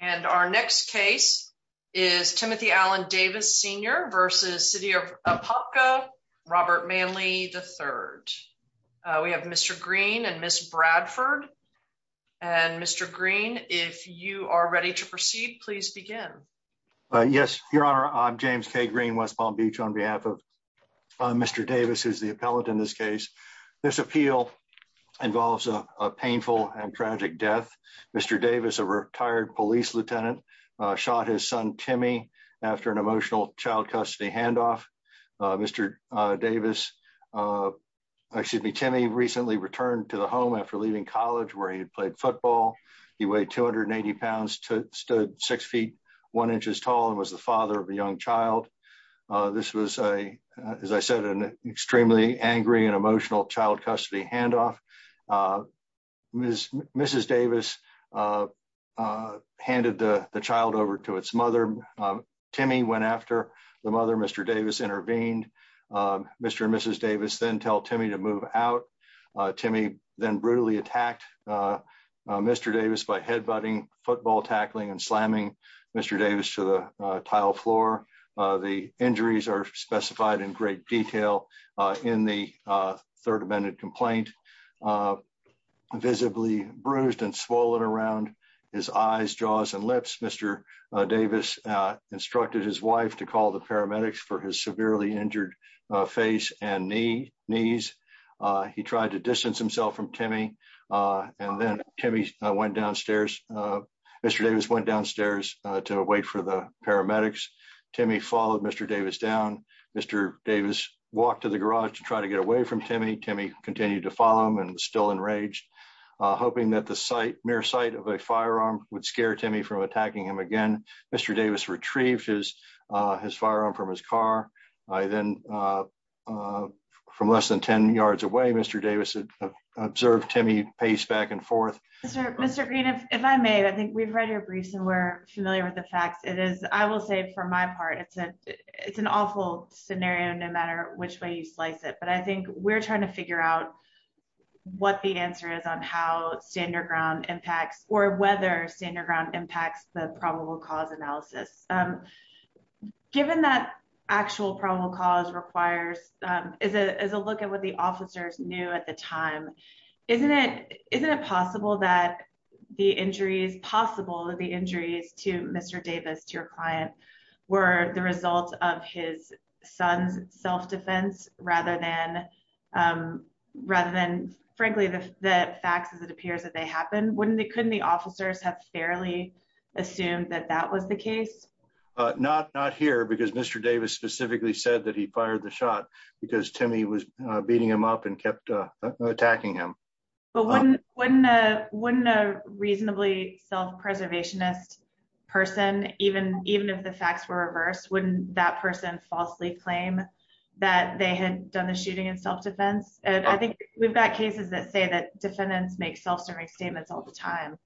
and our next case is Timothy Allen Davis, Sr. v. City of Apopka, Robert Manley III. We have Mr. Green and Ms. Bradford. Mr. Green, if you are ready to proceed, please begin. Yes, Your Honor. I'm James K. Green, West Palm Beach, on behalf of Mr. Davis, who's the appellate in this case. This appeal involves a painful and tragic death. Mr. Davis, a retired police lieutenant, shot his son, Timmy, after an emotional child custody handoff. Mr. Davis, excuse me, Timmy recently returned to the home after leaving college where he had played football. He weighed 280 pounds, stood 6 feet 1 inches tall, and was the father of a young child. This was, as I said, an extremely angry and emotional child custody handoff. Ms. Davis handed the child over to its mother. Timmy went after the mother. Mr. Davis intervened. Mr. and Mrs. Davis then tell Timmy to move out. Timmy then brutally attacked Mr. Davis by head butting, football tackling, and slamming Mr. Davis to the tile floor. The injuries are specified in great detail in the Third Amendment complaint. Visibly bruised and swollen around his eyes, jaws, and lips, Mr. Davis instructed his wife to call the paramedics for his severely injured face and knees. He tried to distance himself from Timmy, and then Mr. Davis went downstairs to wait for the paramedics. Timmy followed Mr. Davis down. Mr. Davis walked to the garage to try to get away from Timmy. Timmy continued to follow him and was still enraged, hoping that the mere sight of a firearm would scare Timmy from attacking him again. Mr. Davis retrieved his firearm from his car. Then, from less than 10 yards away, Mr. Davis observed Timmy pace back and forth. Mr. Green, if I may, I think we've read your briefs and we're familiar with the facts. I will say, for my part, it's an awful scenario no matter which way you slice it, but I think we're trying to figure out what the answer is on how Stand Your Ground impacts, or whether Stand Your Ground impacts the probable cause analysis. Given that actual probable cause is a look at what the officers knew at the time, isn't it possible that the injuries to Mr. Davis, to your client, were the result of his son's self-defense rather than, frankly, the facts as it appears that they happened? Couldn't the officers have fairly said that was the case? Not here, because Mr. Davis specifically said that he fired the shot because Timmy was beating him up and kept attacking him. But wouldn't a reasonably self-preservationist person, even if the facts were reversed, wouldn't that person falsely claim that they had done the shooting in self-defense? I think we've got cases that say that defendants make self-defense statements all the time.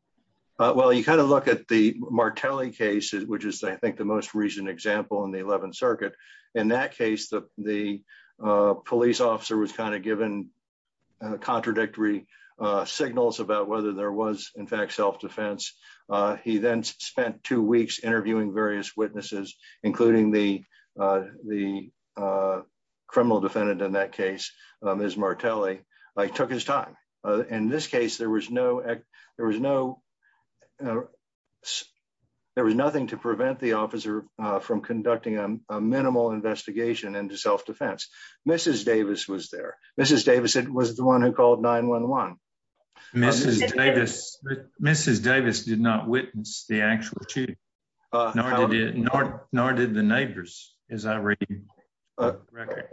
Well, you kind of look at the Martelli case, which is, I think, the most recent example in the 11th Circuit. In that case, the police officer was kind of given contradictory signals about whether there was, in fact, self-defense. He then spent two weeks interviewing various witnesses, including the criminal defendant in that case, Ms. Martelli. He took his time. In this case, there was nothing to prevent the officer from conducting a minimal investigation into self-defense. Mrs. Davis was there. Mrs. Davis was the one who called 911. Mrs. Davis did not witness the actual shooting, nor did the neighbors, as I read the record.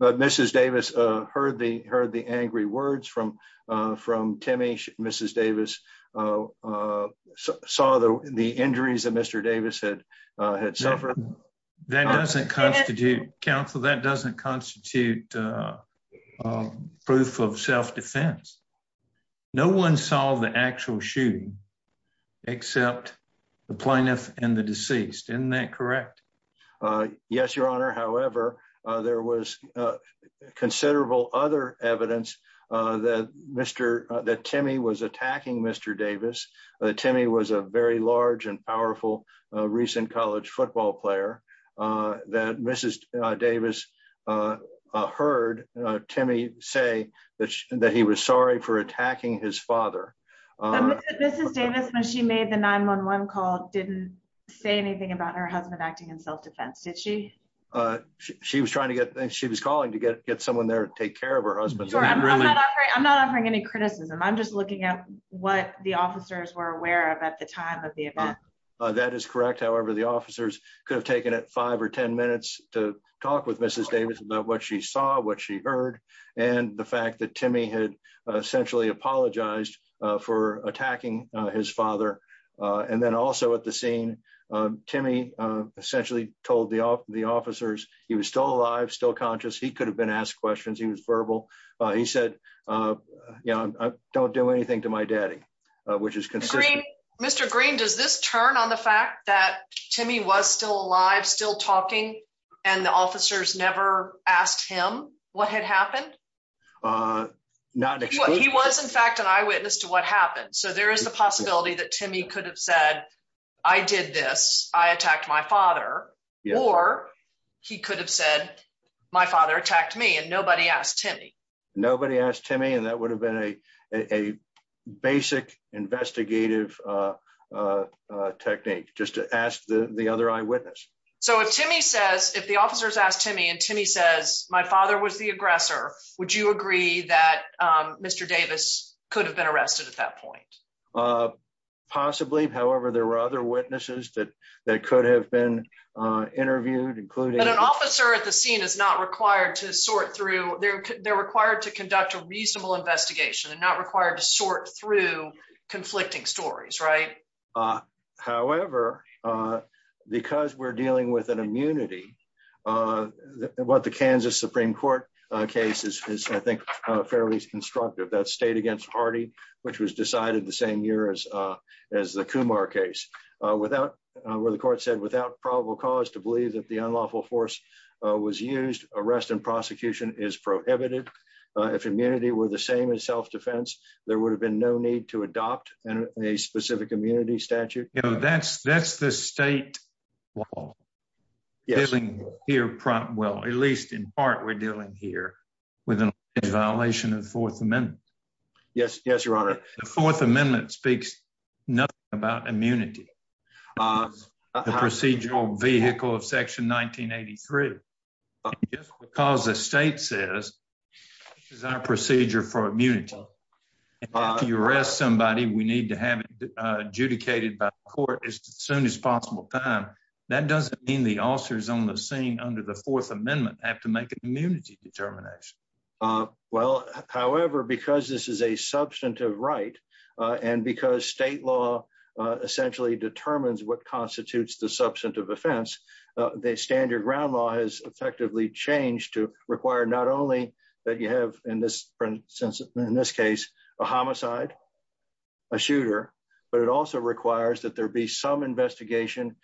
Mrs. Davis heard the angry words from Timmy. Mrs. Davis saw the injuries that Mr. Davis had suffered. That doesn't constitute, counsel, that doesn't constitute proof of self-defense. No one saw the actual shooting except the plaintiff and the deceased. Isn't that correct? Yes, Your Honor. However, there was considerable other evidence that Timmy was attacking Mr. Davis. Timmy was a very large and powerful recent college football player. Mrs. Davis heard Timmy say that he was sorry for attacking his father. Mrs. Davis, when she made the 911 call, didn't say anything about her husband acting in self-defense, did she? She was calling to get someone there to take care of her husband. I'm not offering any criticism. I'm just looking at what the officers were aware of at the time of the event. That is correct. However, the officers could have taken it five or ten minutes to talk Mrs. Davis about what she saw, what she heard, and the fact that Timmy had essentially apologized for attacking his father. Also at the scene, Timmy essentially told the officers he was still alive, still conscious. He could have been asked questions. He was verbal. He said, don't do anything to my daddy, which is consistent. Mr. Green, does this turn on the fact that the officers never asked him what had happened? He was, in fact, an eyewitness to what happened, so there is the possibility that Timmy could have said, I did this, I attacked my father, or he could have said, my father attacked me, and nobody asked Timmy. Nobody asked Timmy, and that would have been a basic investigative technique, just to ask the other eyewitness. So if Timmy says, if the officers ask Timmy, and Timmy says, my father was the aggressor, would you agree that Mr. Davis could have been arrested at that point? Possibly, however, there were other witnesses that that could have been interviewed, including... An officer at the scene is not required to sort through, they're required to conduct a reasonable investigation, and not required to sort through what the Kansas Supreme Court case is, I think, fairly constructive, that state against Hardy, which was decided the same year as the Kumar case, where the court said, without probable cause to believe that the unlawful force was used, arrest and prosecution is prohibited. If immunity were the same as self-defense, there would have been no need to adopt a specific immunity statute. That's the state law, dealing here, well, at least in part, we're dealing here with a violation of the Fourth Amendment. Yes, your honor. The Fourth Amendment speaks nothing about immunity, the procedural vehicle of Section 1983, because the state says, this is our procedure for immunity. If you arrest somebody, we need to have it adjudicated by the court as soon as possible time. That doesn't mean the officers on the scene under the Fourth Amendment have to make an immunity determination. Well, however, because this is a substantive right, and because state law essentially determines what constitutes the substantive offense, the standard ground law has effectively changed to require not only that you have, in this sense, in this case, a homicide, a shooter, but it also requires that there be some investigation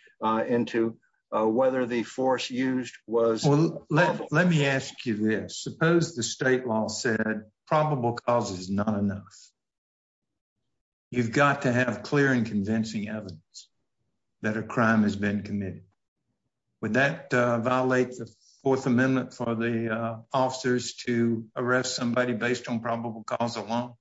into whether the force used was... Well, let me ask you this. Suppose the state law said probable cause is not enough. You've got to have clear and convincing evidence that a crime has been committed. Would that violate the Fourth Amendment for the officers to arrest somebody based on probable cause alone?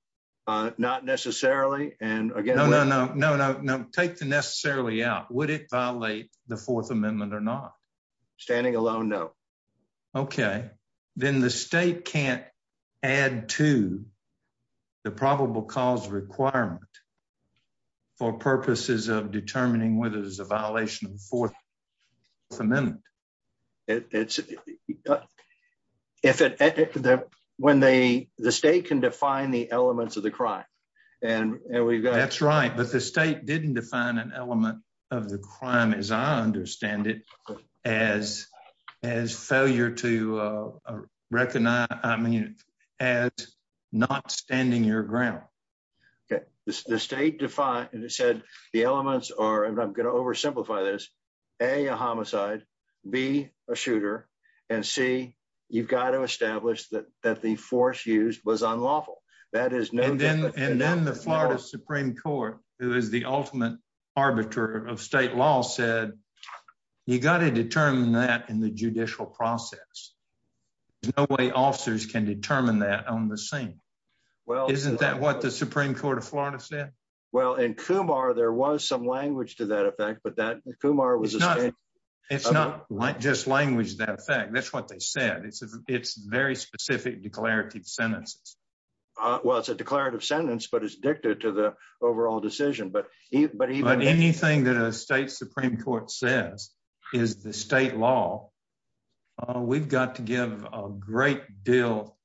Not necessarily, and again... No, no, no, no, no, take the necessarily out. Would it violate the Fourth Amendment or not? Standing alone, no. Okay, then the state can't add to the probable cause requirement for purposes of determining whether there's a violation of the Fourth Amendment. The state can define the elements of the crime, and we've got... That's right, but the state didn't define an element of the crime, as I understand it, as failure to recognize, I mean, as not standing your ground. Okay, the state defined, and it said the elements are, and I'm going to oversimplify this, A, a homicide, B, a shooter, and C, you've got to establish that the force used was unlawful. And then the Florida Supreme Court, who is the ultimate arbiter of state law, said you've got to determine that in the judicial process. There's no way officers can determine that on the scene. Isn't that what the Supreme Court of Florida said? Well, in Kumar, there was some language to that effect, but that Kumar was... It's not just language to that effect. That's what they said. It's very specific declarative sentences. Well, it's a declarative sentence, but it's dicta to the overall decision. But anything that a state Supreme Court says is the state law, we've got to give a great deal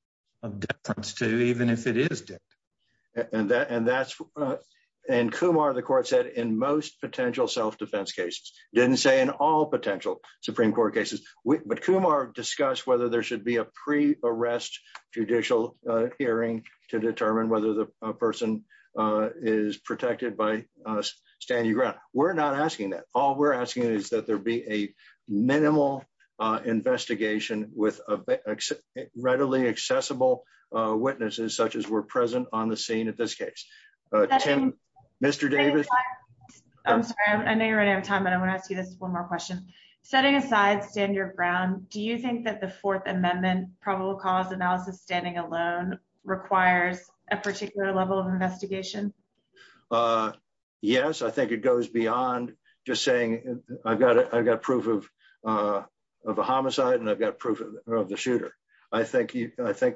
of deference to, even if it is dicta. And Kumar, the court said, in most potential self-defense cases, didn't say in all potential Supreme Court cases, but Kumar discussed whether there should be a pre-arrest judicial hearing to determine whether the person is protected by standing ground. We're not asking that. All we're asking is that there be a minimal investigation with readily accessible witnesses, such as were present on the scene at this case. Tim, Mr. Davis? I'm sorry. I know you're running out of time, but I want to ask you this one more question. Setting aside standard ground, do you think that the Fourth Amendment probable cause analysis standing alone requires a particular level of investigation? Yes. I think it goes beyond just saying, I've got proof of a homicide and I've got proof of a shooter. I think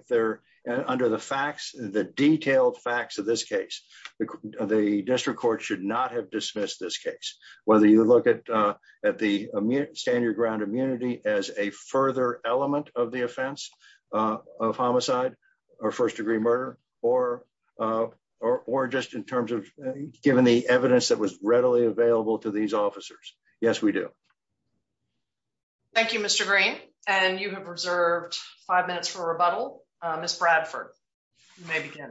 there, under the facts, the detailed facts of this case, the district court should not have dismissed this case. Whether you look at the standard ground immunity as a further element of the offense of homicide or first degree murder, or just in terms of given the evidence that was readily available to these officers. Yes, we do. Thank you, Mr. Green. And you have reserved five minutes for rebuttal. Ms. Bradford, you may begin.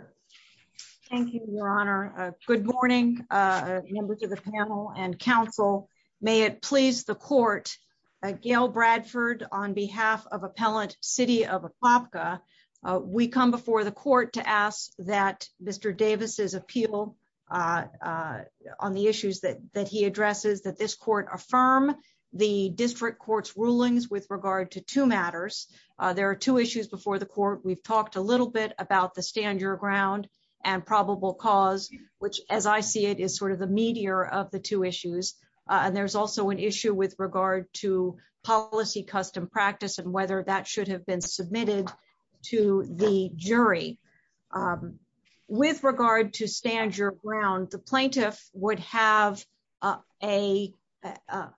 Thank you, Your Honor. Good morning, members of the panel and counsel. May it please the court, Gail Bradford, on behalf of Appellant City of Apopka, we come before the court to ask that the district court's rulings with regard to two matters. There are two issues before the court. We've talked a little bit about the standard ground and probable cause, which, as I see it, is sort of the meteor of the two issues. And there's also an issue with regard to policy, custom practice, and whether that should have been submitted to the jury. With regard to standard ground, the plaintiff would have a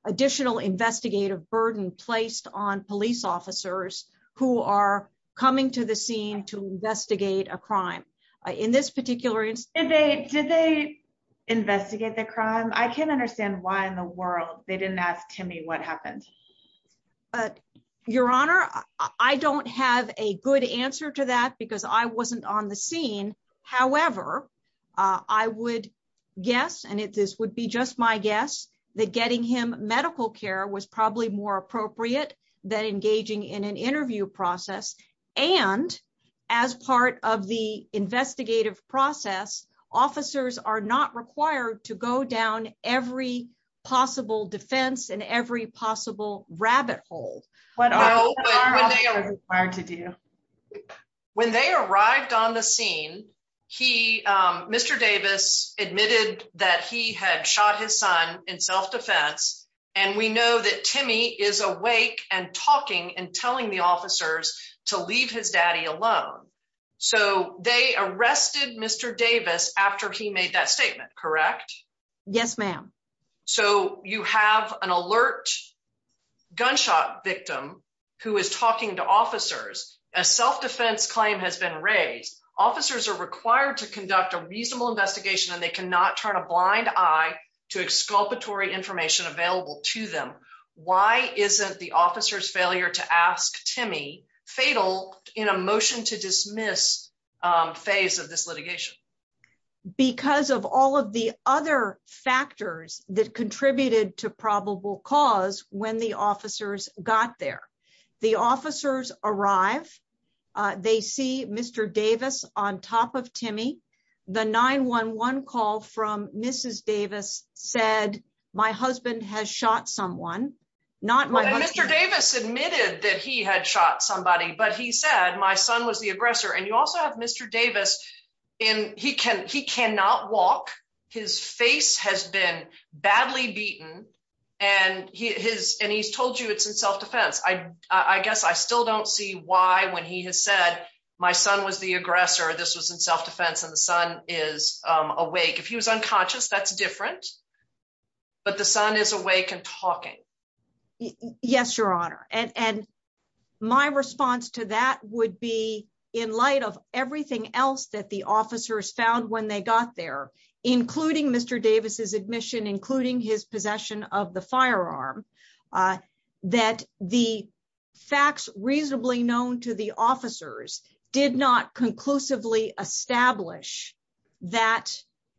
additional investigative burden placed on police officers who are coming to the scene to investigate a crime. In this particular instance... Did they investigate the crime? I can't understand why in the world they didn't ask Timmy what happened. Your Honor, I don't have a good answer to that because I wasn't on the scene. However, I would guess, and this would be just my guess, that getting him medical care was probably more appropriate than engaging in an interview process. And as part of the investigative process, officers are not required to go down every possible defense and every possible rabbit hole. What are officers required to do? When they arrived on the scene, Mr. Davis admitted that he had shot his son in self-defense, and we know that Timmy is awake and talking and telling the officers to leave his daddy alone. So they arrested Mr. Davis after he gunshot victim who is talking to officers. A self-defense claim has been raised. Officers are required to conduct a reasonable investigation and they cannot turn a blind eye to exculpatory information available to them. Why isn't the officer's failure to ask Timmy fatal in a motion to dismiss phase of this litigation? Because of all of the other factors that contributed to cause when the officers got there. The officers arrive, they see Mr. Davis on top of Timmy. The 911 call from Mrs. Davis said, my husband has shot someone. Mr. Davis admitted that he had shot somebody, but he said my son was the aggressor. And you and his, and he's told you it's in self-defense. I, I guess I still don't see why when he has said my son was the aggressor, this was in self-defense and the son is awake. If he was unconscious, that's different, but the son is awake and talking. Yes, your honor. And, and my response to that would be in light of everything else that the officers found when they got there, including Mr. Davis's admission, including his possession of the firearm, uh, that the facts reasonably known to the officers did not conclusively establish that,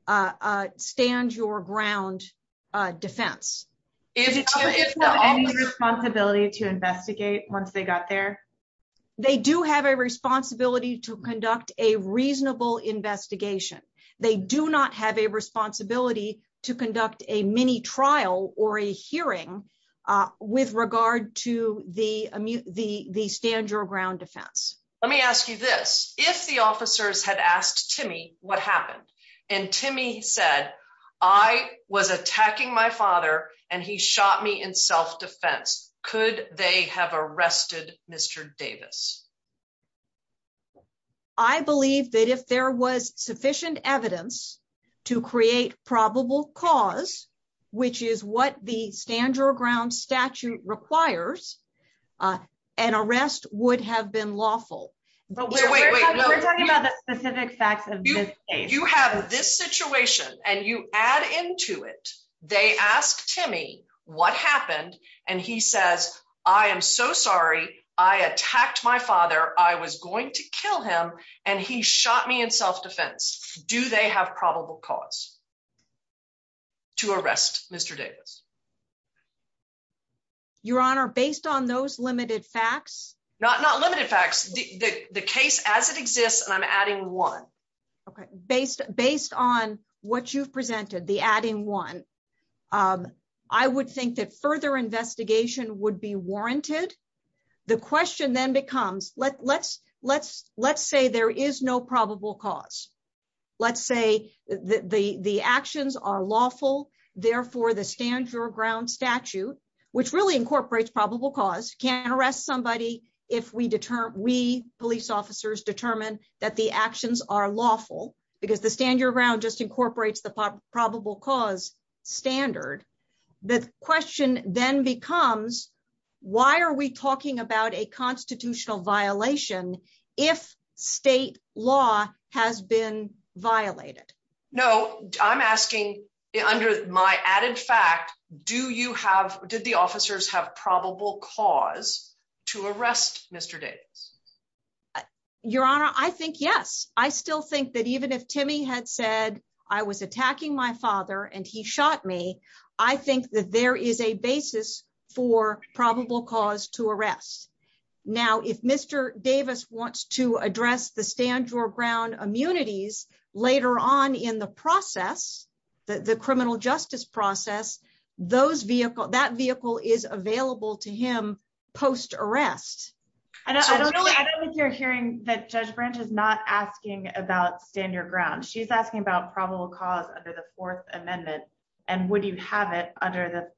uh, uh, stand your ground, uh, defense responsibility to investigate once they got there. They do have a responsibility to conduct a reasonable investigation. They do not have a responsibility to conduct a mini trial or a hearing, uh, with regard to the, the, the stand your ground defense. Let me ask you this. If the officers had asked Timmy, what happened? And Timmy said, I was attacking my father and shot me in self-defense. Could they have arrested Mr. Davis? I believe that if there was sufficient evidence to create probable cause, which is what the stand your ground statute requires, uh, an arrest would have been lawful. We're talking about the specific facts of this case. You have this situation and you add into it. They asked Timmy what happened? And he says, I am so sorry. I attacked my father. I was going to kill him and he shot me in self-defense. Do they have probable cause to arrest Mr. Davis? Your honor, based on those limited facts, not, not limited facts, the case as it exists, and I'm adding one, okay. Based, based on what you've presented, the adding one, um, I would think that further investigation would be warranted. The question then becomes let, let's, let's, let's say there is no probable cause. Let's say the, the, the actions are lawful. Therefore the stand your ground statute, which really incorporates probable cause can arrest somebody. If we deter, we police officers determine that the actions are lawful because the stand your ground just incorporates the probable cause standard. The question then becomes, why are we talking about a constitutional violation? If state law has been violated? No, I'm asking under my added fact, do you have, did the officers have probable cause to arrest Mr. Davis? Your honor, I think, yes. I still think that even if Timmy had said I was attacking my father and he shot me, I think that there is a basis for probable cause to process. The criminal justice process, those vehicle, that vehicle is available to him post arrest. I don't know if you're hearing that judge branch is not asking about stand your ground. She's asking about probable cause under the fourth amendment. And would you have it under the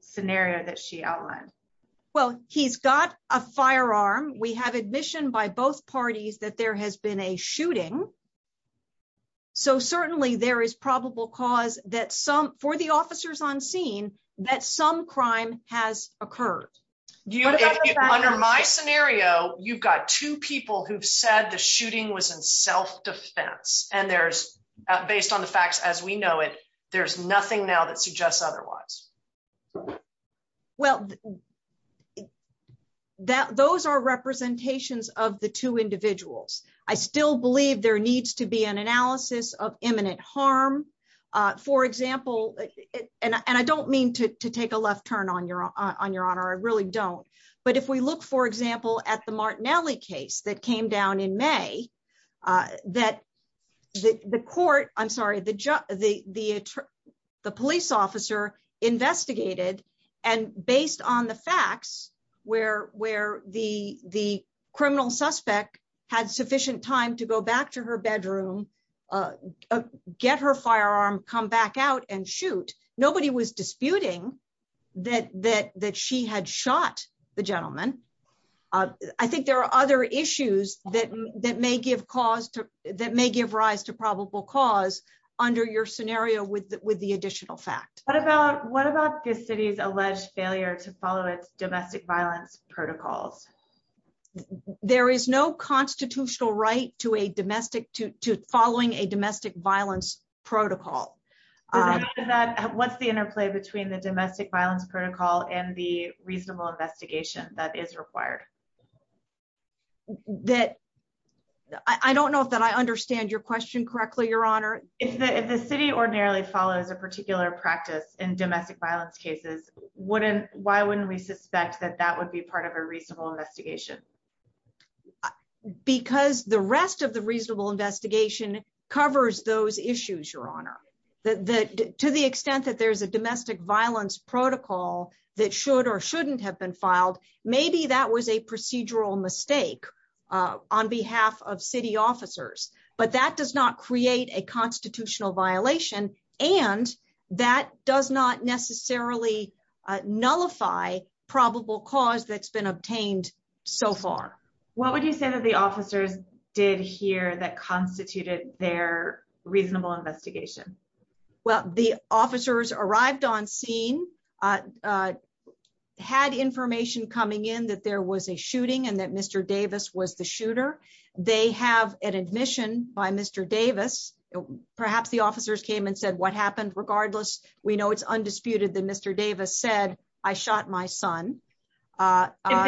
scenario that she outlined? Well, he's got a firearm. We have admission by both parties that there has been a shooting. So certainly there is probable cause that some for the officers on scene, that some crime has occurred. Under my scenario, you've got two people who've said the shooting was in self-defense and there's based on the facts as we know it, there's nothing now that I still believe there needs to be an analysis of imminent harm. For example, and I don't mean to take a left turn on your honor. I really don't. But if we look, for example, at the Martinelli case that came down in May, that the court, I'm sorry, the police officer investigated and based on the facts where, where the, the criminal suspect had sufficient time to go back to her bedroom, get her firearm, come back out and shoot. Nobody was disputing that, that, that she had shot the gentleman. I think there are other issues that, that may give cause to, that may give rise to probable cause under your scenario with, with the additional fact. What about, what about this city's alleged failure to follow its domestic violence protocols? There is no constitutional right to a domestic, to, to following a domestic violence protocol. What's the interplay between the domestic violence protocol and the reasonable investigation that is required? That, I don't know if that I understand your question correctly, your honor. If the, the city ordinarily follows a particular practice in domestic violence cases, wouldn't, why wouldn't we suspect that that would be part of a reasonable investigation? Because the rest of the reasonable investigation covers those issues, your honor, that, that to the extent that there's a domestic violence protocol that should or shouldn't have been filed, maybe that was a procedural mistake on behalf of city officers, but that does not create a constitutional violation and that does not necessarily nullify probable cause that's been obtained so far. What would you say that the officers did here that constituted their reasonable investigation? Well, the officers arrived on scene, had information coming in that there was a shooting and that Mr. Davis was the shooter. They have an admission by Mr. Davis perhaps the officers came and said, what happened? Regardless, we know it's undisputed that Mr. Davis said, I shot my son. If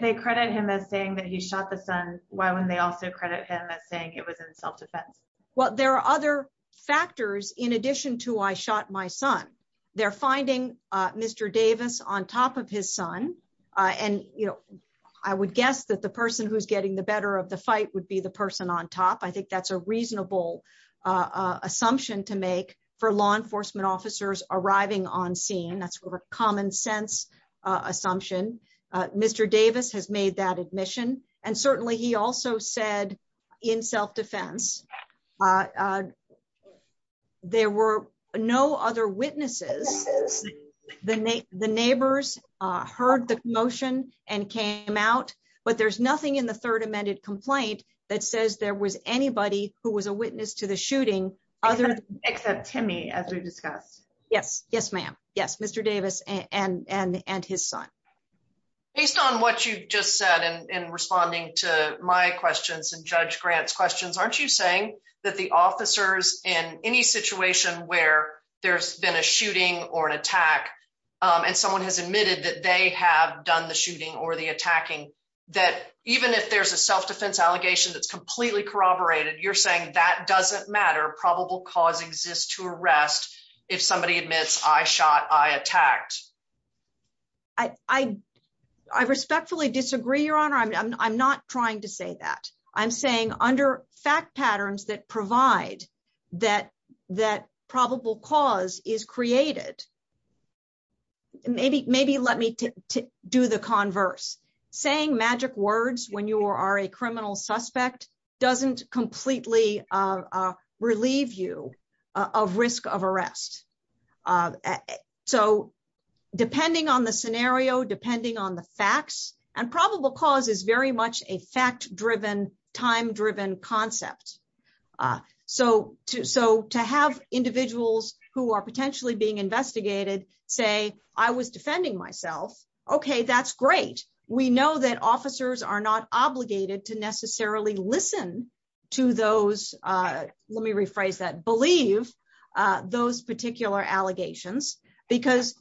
they credit him as saying that he shot the son, why wouldn't they also credit him as saying it was in self-defense? Well, there are other factors in addition to, I shot my son. They're finding Mr. Davis on top of his son. And you know, I would guess that the person who's getting the better of the fight would be the person on top. I think that's a reasonable assumption to make for law enforcement officers arriving on scene. That's a common sense assumption. Mr. Davis has made that admission. And certainly he also said in self-defense, there were no other witnesses. The neighbors heard the motion and came out, but there's nothing in other. Except Timmy, as we discussed. Yes. Yes, ma'am. Yes. Mr. Davis and his son. Based on what you just said in responding to my questions and Judge Grant's questions, aren't you saying that the officers in any situation where there's been a shooting or an attack and someone has admitted that they have done the shooting or the attacking, that even if there's a self-defense allegation that's completely corroborated, you're saying that doesn't matter. Probable cause exists to arrest. If somebody admits I shot, I attacked. I respectfully disagree, Your Honor. I'm not trying to say that. I'm saying under fact patterns that provide that probable cause is created. Maybe let me do the converse. Saying magic words when you are a criminal suspect doesn't completely relieve you of risk of arrest. So depending on the scenario, depending on the facts, and probable cause is very much a fact-driven, time-driven concept. So to have individuals who are potentially being arrested, we know that officers are not obligated to necessarily listen to those, let me rephrase that, believe those particular allegations because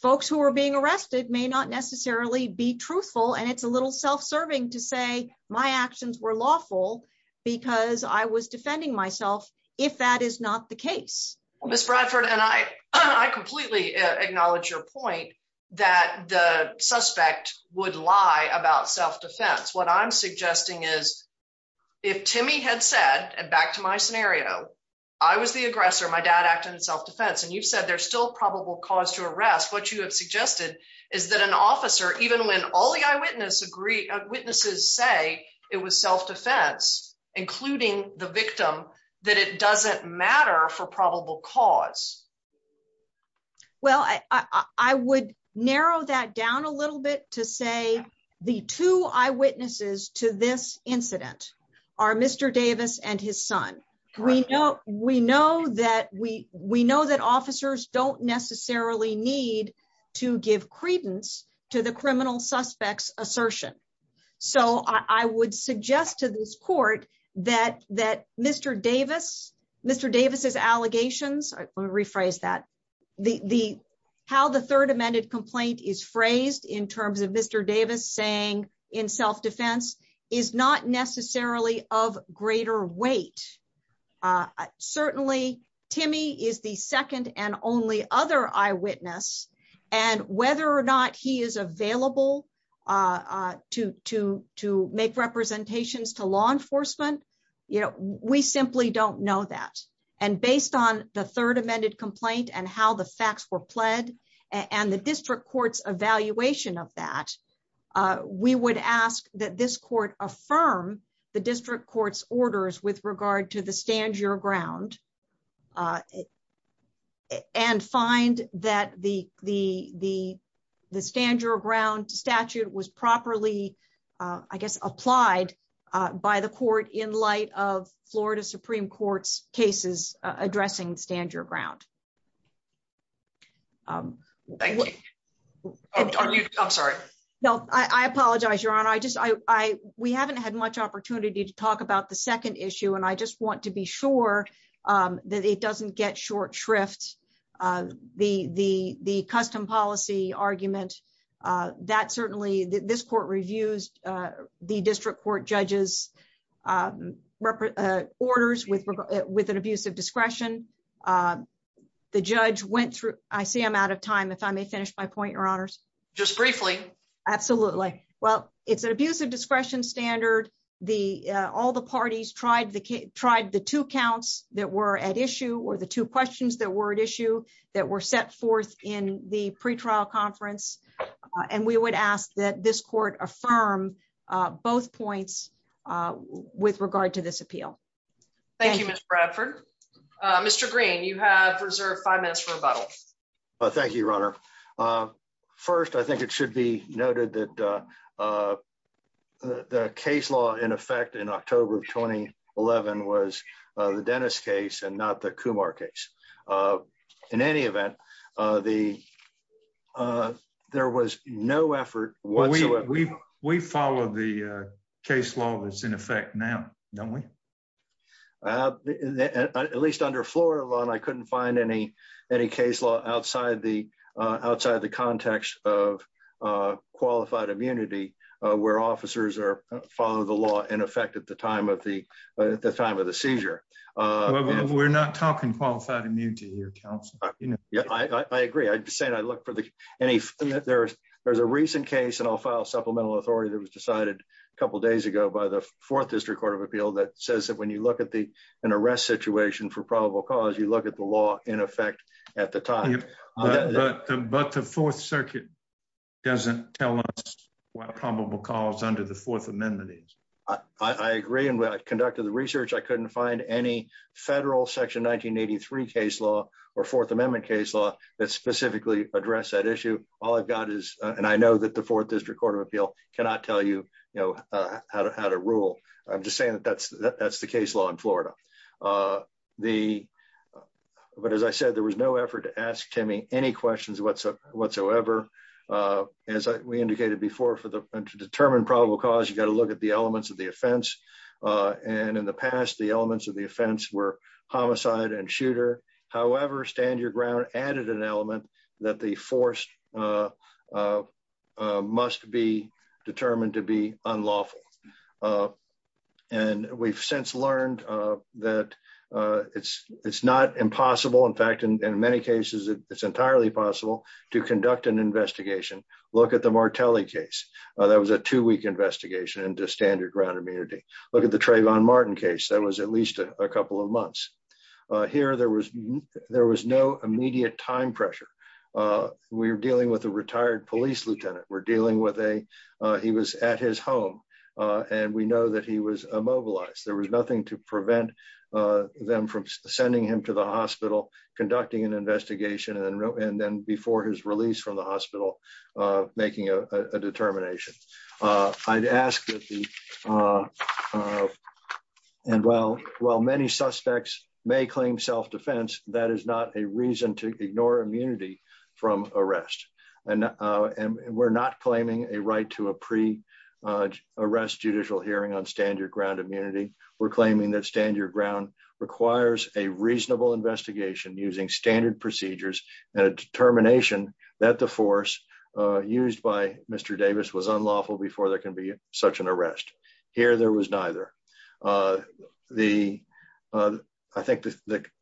folks who are being arrested may not necessarily be truthful and it's a little self-serving to say my actions were lawful because I was defending myself if that is not the case. Ms. Bradford, and I completely acknowledge your point that the suspect would lie about self-defense. What I'm suggesting is if Timmy had said, and back to my scenario, I was the aggressor, my dad acted in self-defense, and you've said there's still probable cause to arrest, what you have suggested is that an officer, even when all the eyewitnesses say it was self-defense, including the victim, that it would narrow that down a little bit to say the two eyewitnesses to this incident are Mr. Davis and his son. We know that officers don't necessarily need to give credence to the criminal suspect's assertion. So I would suggest to this court that Mr. Davis, Mr. Davis's allegations, let me rephrase that, how the third amended complaint is phrased in terms of Mr. Davis saying in self-defense is not necessarily of greater weight. Certainly, Timmy is the second and only other eyewitness and whether or not he is available to make representations to law enforcement, we simply don't know that. And based on the third amended complaint and how the facts were pled and the district court's evaluation of that, we would ask that this court affirm the district court's orders with regard to the stand your ground and find that the stand your ground statute was properly, I guess, applied by the court in light of Florida Supreme Court's cases addressing stand your ground. I'm sorry. No, I apologize, Your Honor. We haven't had much opportunity to talk about the second issue and I just want to be sure that it doesn't get short of the custom policy argument that certainly this court reviews the district court judges orders with an abuse of discretion. The judge went through, I see I'm out of time, if I may finish my point, Your Honors. Just briefly. Absolutely. Well, it's an abuse of discretion standard. All the parties tried the two counts that were at issue or the two questions that were at issue that were set forth in the pretrial conference. And we would ask that this court affirm both points with regard to this appeal. Thank you, Mr. Bradford. Mr. Green, you have reserved five minutes for rebuttal. Thank you, Your Honor. First, I think it should be noted that the case law in effect in October of 2011 was the Dennis case and not the Kumar case. In any event, there was no effort whatsoever. We follow the case law that's in effect now, don't we? At least under Florida law, I couldn't find any case law outside the context of where officers follow the law in effect at the time of the seizure. We're not talking qualified immunity here, counsel. Yeah, I agree. There's a recent case, and I'll file supplemental authority that was decided a couple days ago by the Fourth District Court of Appeal that says that when you look at an arrest situation for probable cause, you look at law in effect at the time. But the Fourth Circuit doesn't tell us what probable cause under the Fourth Amendment is. I agree, and when I conducted the research, I couldn't find any federal Section 1983 case law or Fourth Amendment case law that specifically address that issue. All I've got is, and I know that the Fourth District Court of Appeal cannot tell you how to rule. I'm just but as I said, there was no effort to ask Timmy any questions whatsoever. As we indicated before, to determine probable cause, you've got to look at the elements of the offense. In the past, the elements of the offense were homicide and shooter. However, stand your ground added an element that the force must be determined to be unlawful. And we've since learned that it's not impossible. In fact, in many cases, it's entirely possible to conduct an investigation. Look at the Martelli case. That was a two-week investigation into standard ground immunity. Look at the Trayvon Martin case. That was at least a couple of months. Here, there was no immediate time pressure. We were dealing with a retired police lieutenant. We're dealing with a, he was at his home, and we know that he was immobilized. There was nothing to prevent them from sending him to the hospital, conducting an investigation, and then before his release from the hospital, making a determination. I'd ask that the, and while many suspects may to a pre-arrest judicial hearing on stand your ground immunity, we're claiming that stand your ground requires a reasonable investigation using standard procedures and a determination that the force used by Mr. Davis was unlawful before there can be such an arrest. Here, there was neither. I think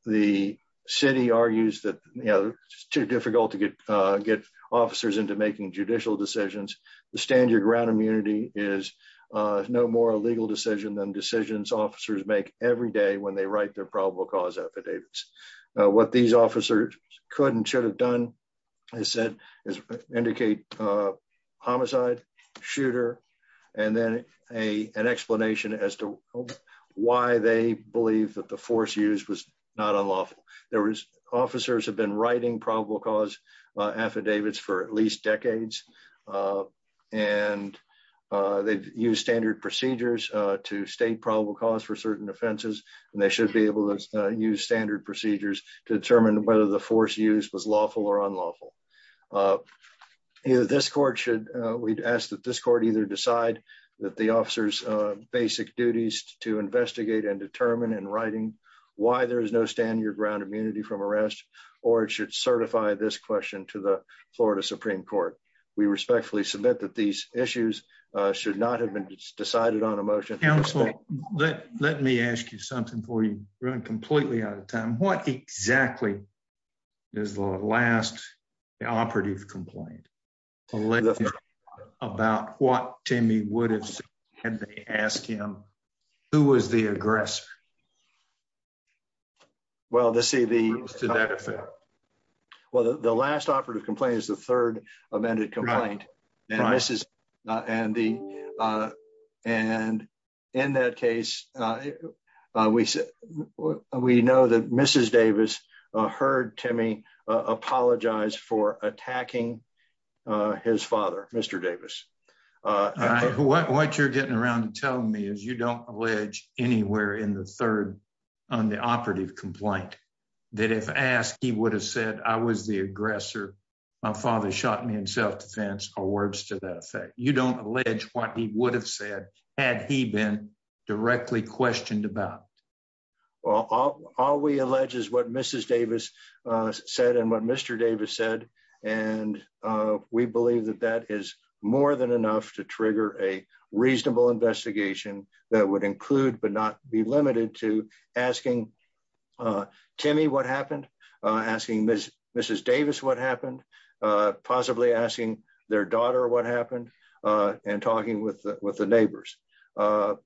the city argues that it's too difficult to get officers into making judicial decisions. The stand your ground immunity is no more a legal decision than decisions officers make every day when they write their probable cause affidavits. What these officers could and should have done, as I said, is indicate homicide, shooter, and then an explanation as to why they believe that the force used was not unlawful. There was, officers have been writing probable cause affidavits for at least decades, and they've used standard procedures to state probable cause for certain offenses, and they should be able to use standard procedures to determine whether the force used was lawful or unlawful. This court should, we'd ask that this court either decide that the officer's basic duties to investigate and determine in writing why there is no stand your ground immunity from arrest, or it should certify this question to the Florida Supreme Court. We respectfully submit that these issues should not have been decided on a motion. Counselor, let me ask you something before you run completely out of time. What exactly is the last operative complaint about what Timmy would have said had they asked him who was the aggressor? Well, the last operative complaint is the third amended complaint, and in that case, we know that Mrs. Davis heard Timmy apologize for attacking his father, Mr. Davis. What you're getting around to telling me is you don't allege anywhere in the third on the operative complaint that if asked, he would have said, I was the aggressor, my father shot me in self-defense or words to that effect. You don't allege what he would have said had he been directly questioned about. Well, all we allege is what Mrs. Davis said and what Mr. Davis said, and we believe that that is more than enough to trigger a reasonable investigation that would include but not be limited to asking Timmy what happened, asking Mrs. Davis what happened, possibly asking their daughter what happened, and talking with the neighbors. The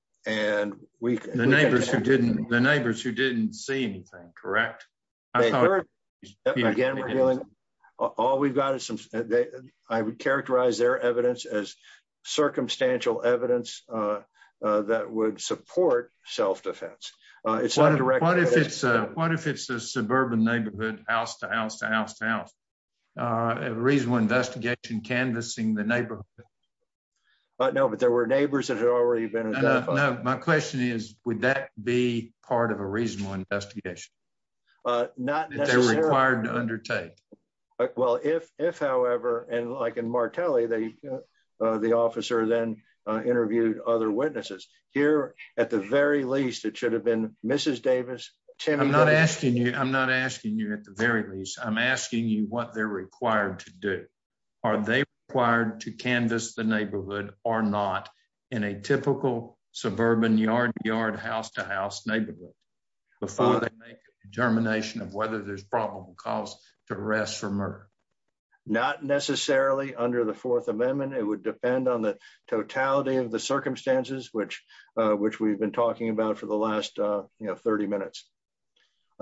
neighbors who didn't see anything, correct? Again, all we've got is some, I would characterize their evidence as circumstantial evidence that would support self-defense. What if it's a suburban neighborhood house to house to house to house? A reasonable investigation canvassing the neighborhood. No, but there were neighbors that had already been. No, my question is, would that be part of a reasonable investigation? Not necessarily. That they're required to undertake. Well, if however, and like in Martelli, the officer then interviewed other witnesses. Here, at the very least, it should have been Mrs. Davis. I'm not asking you at the very least. I'm asking you what they're required to do. Are they required to canvass the neighborhood or not in a typical suburban yard yard house to house neighborhood before they make a determination of whether there's probable cause to arrest or murder? Not necessarily under the Fourth Amendment. It would have to be a reasonable investigation.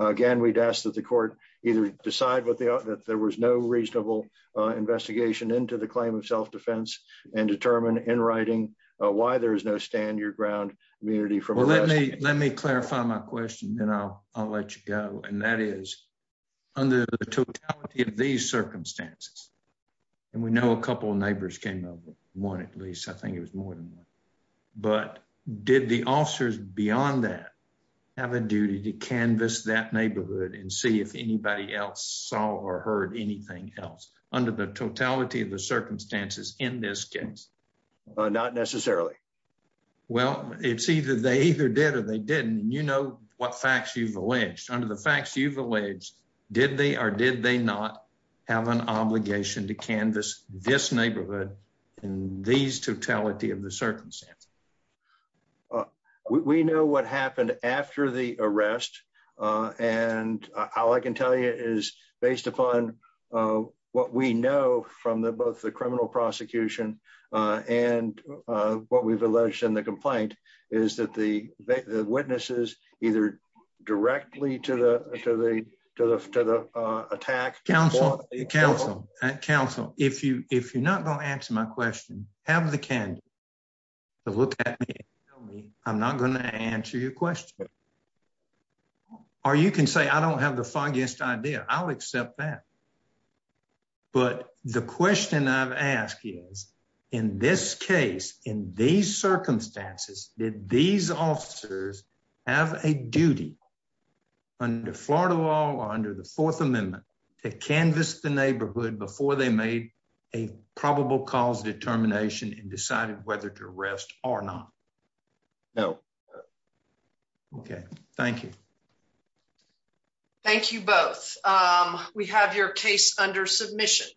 Again, we'd ask that the court either decide that there was no reasonable investigation into the claim of self-defense and determine in writing why there is no stand your ground immunity. Let me clarify my question and I'll let you go. That is, under the totality of these circumstances, and we know a couple of neighbors came over, one at least, I think it was more than one, but did the officers beyond that have a duty to canvass that neighborhood and see if anybody else saw or heard anything else under the totality of the circumstances in this case? Not necessarily. Well, it's either they either did or they didn't, and you know what facts you've alleged. Under the facts you've alleged, did they or did they not have an obligation to canvass this neighborhood in these totality of the circumstances? We know what happened after the arrest, and all I can tell you is based upon what we know from the both the criminal prosecution and what we've alleged in the complaint is that the counsel and counsel, if you if you're not going to answer my question, have the candidate to look at me and tell me I'm not going to answer your question, or you can say I don't have the foggiest idea. I'll accept that, but the question I've asked is in this case, in these circumstances, did these officers have a duty under Florida law or under Fourth Amendment to canvass the neighborhood before they made a probable cause determination and decided whether to arrest or not? No. Okay, thank you. Thank you both. We have your case under submission.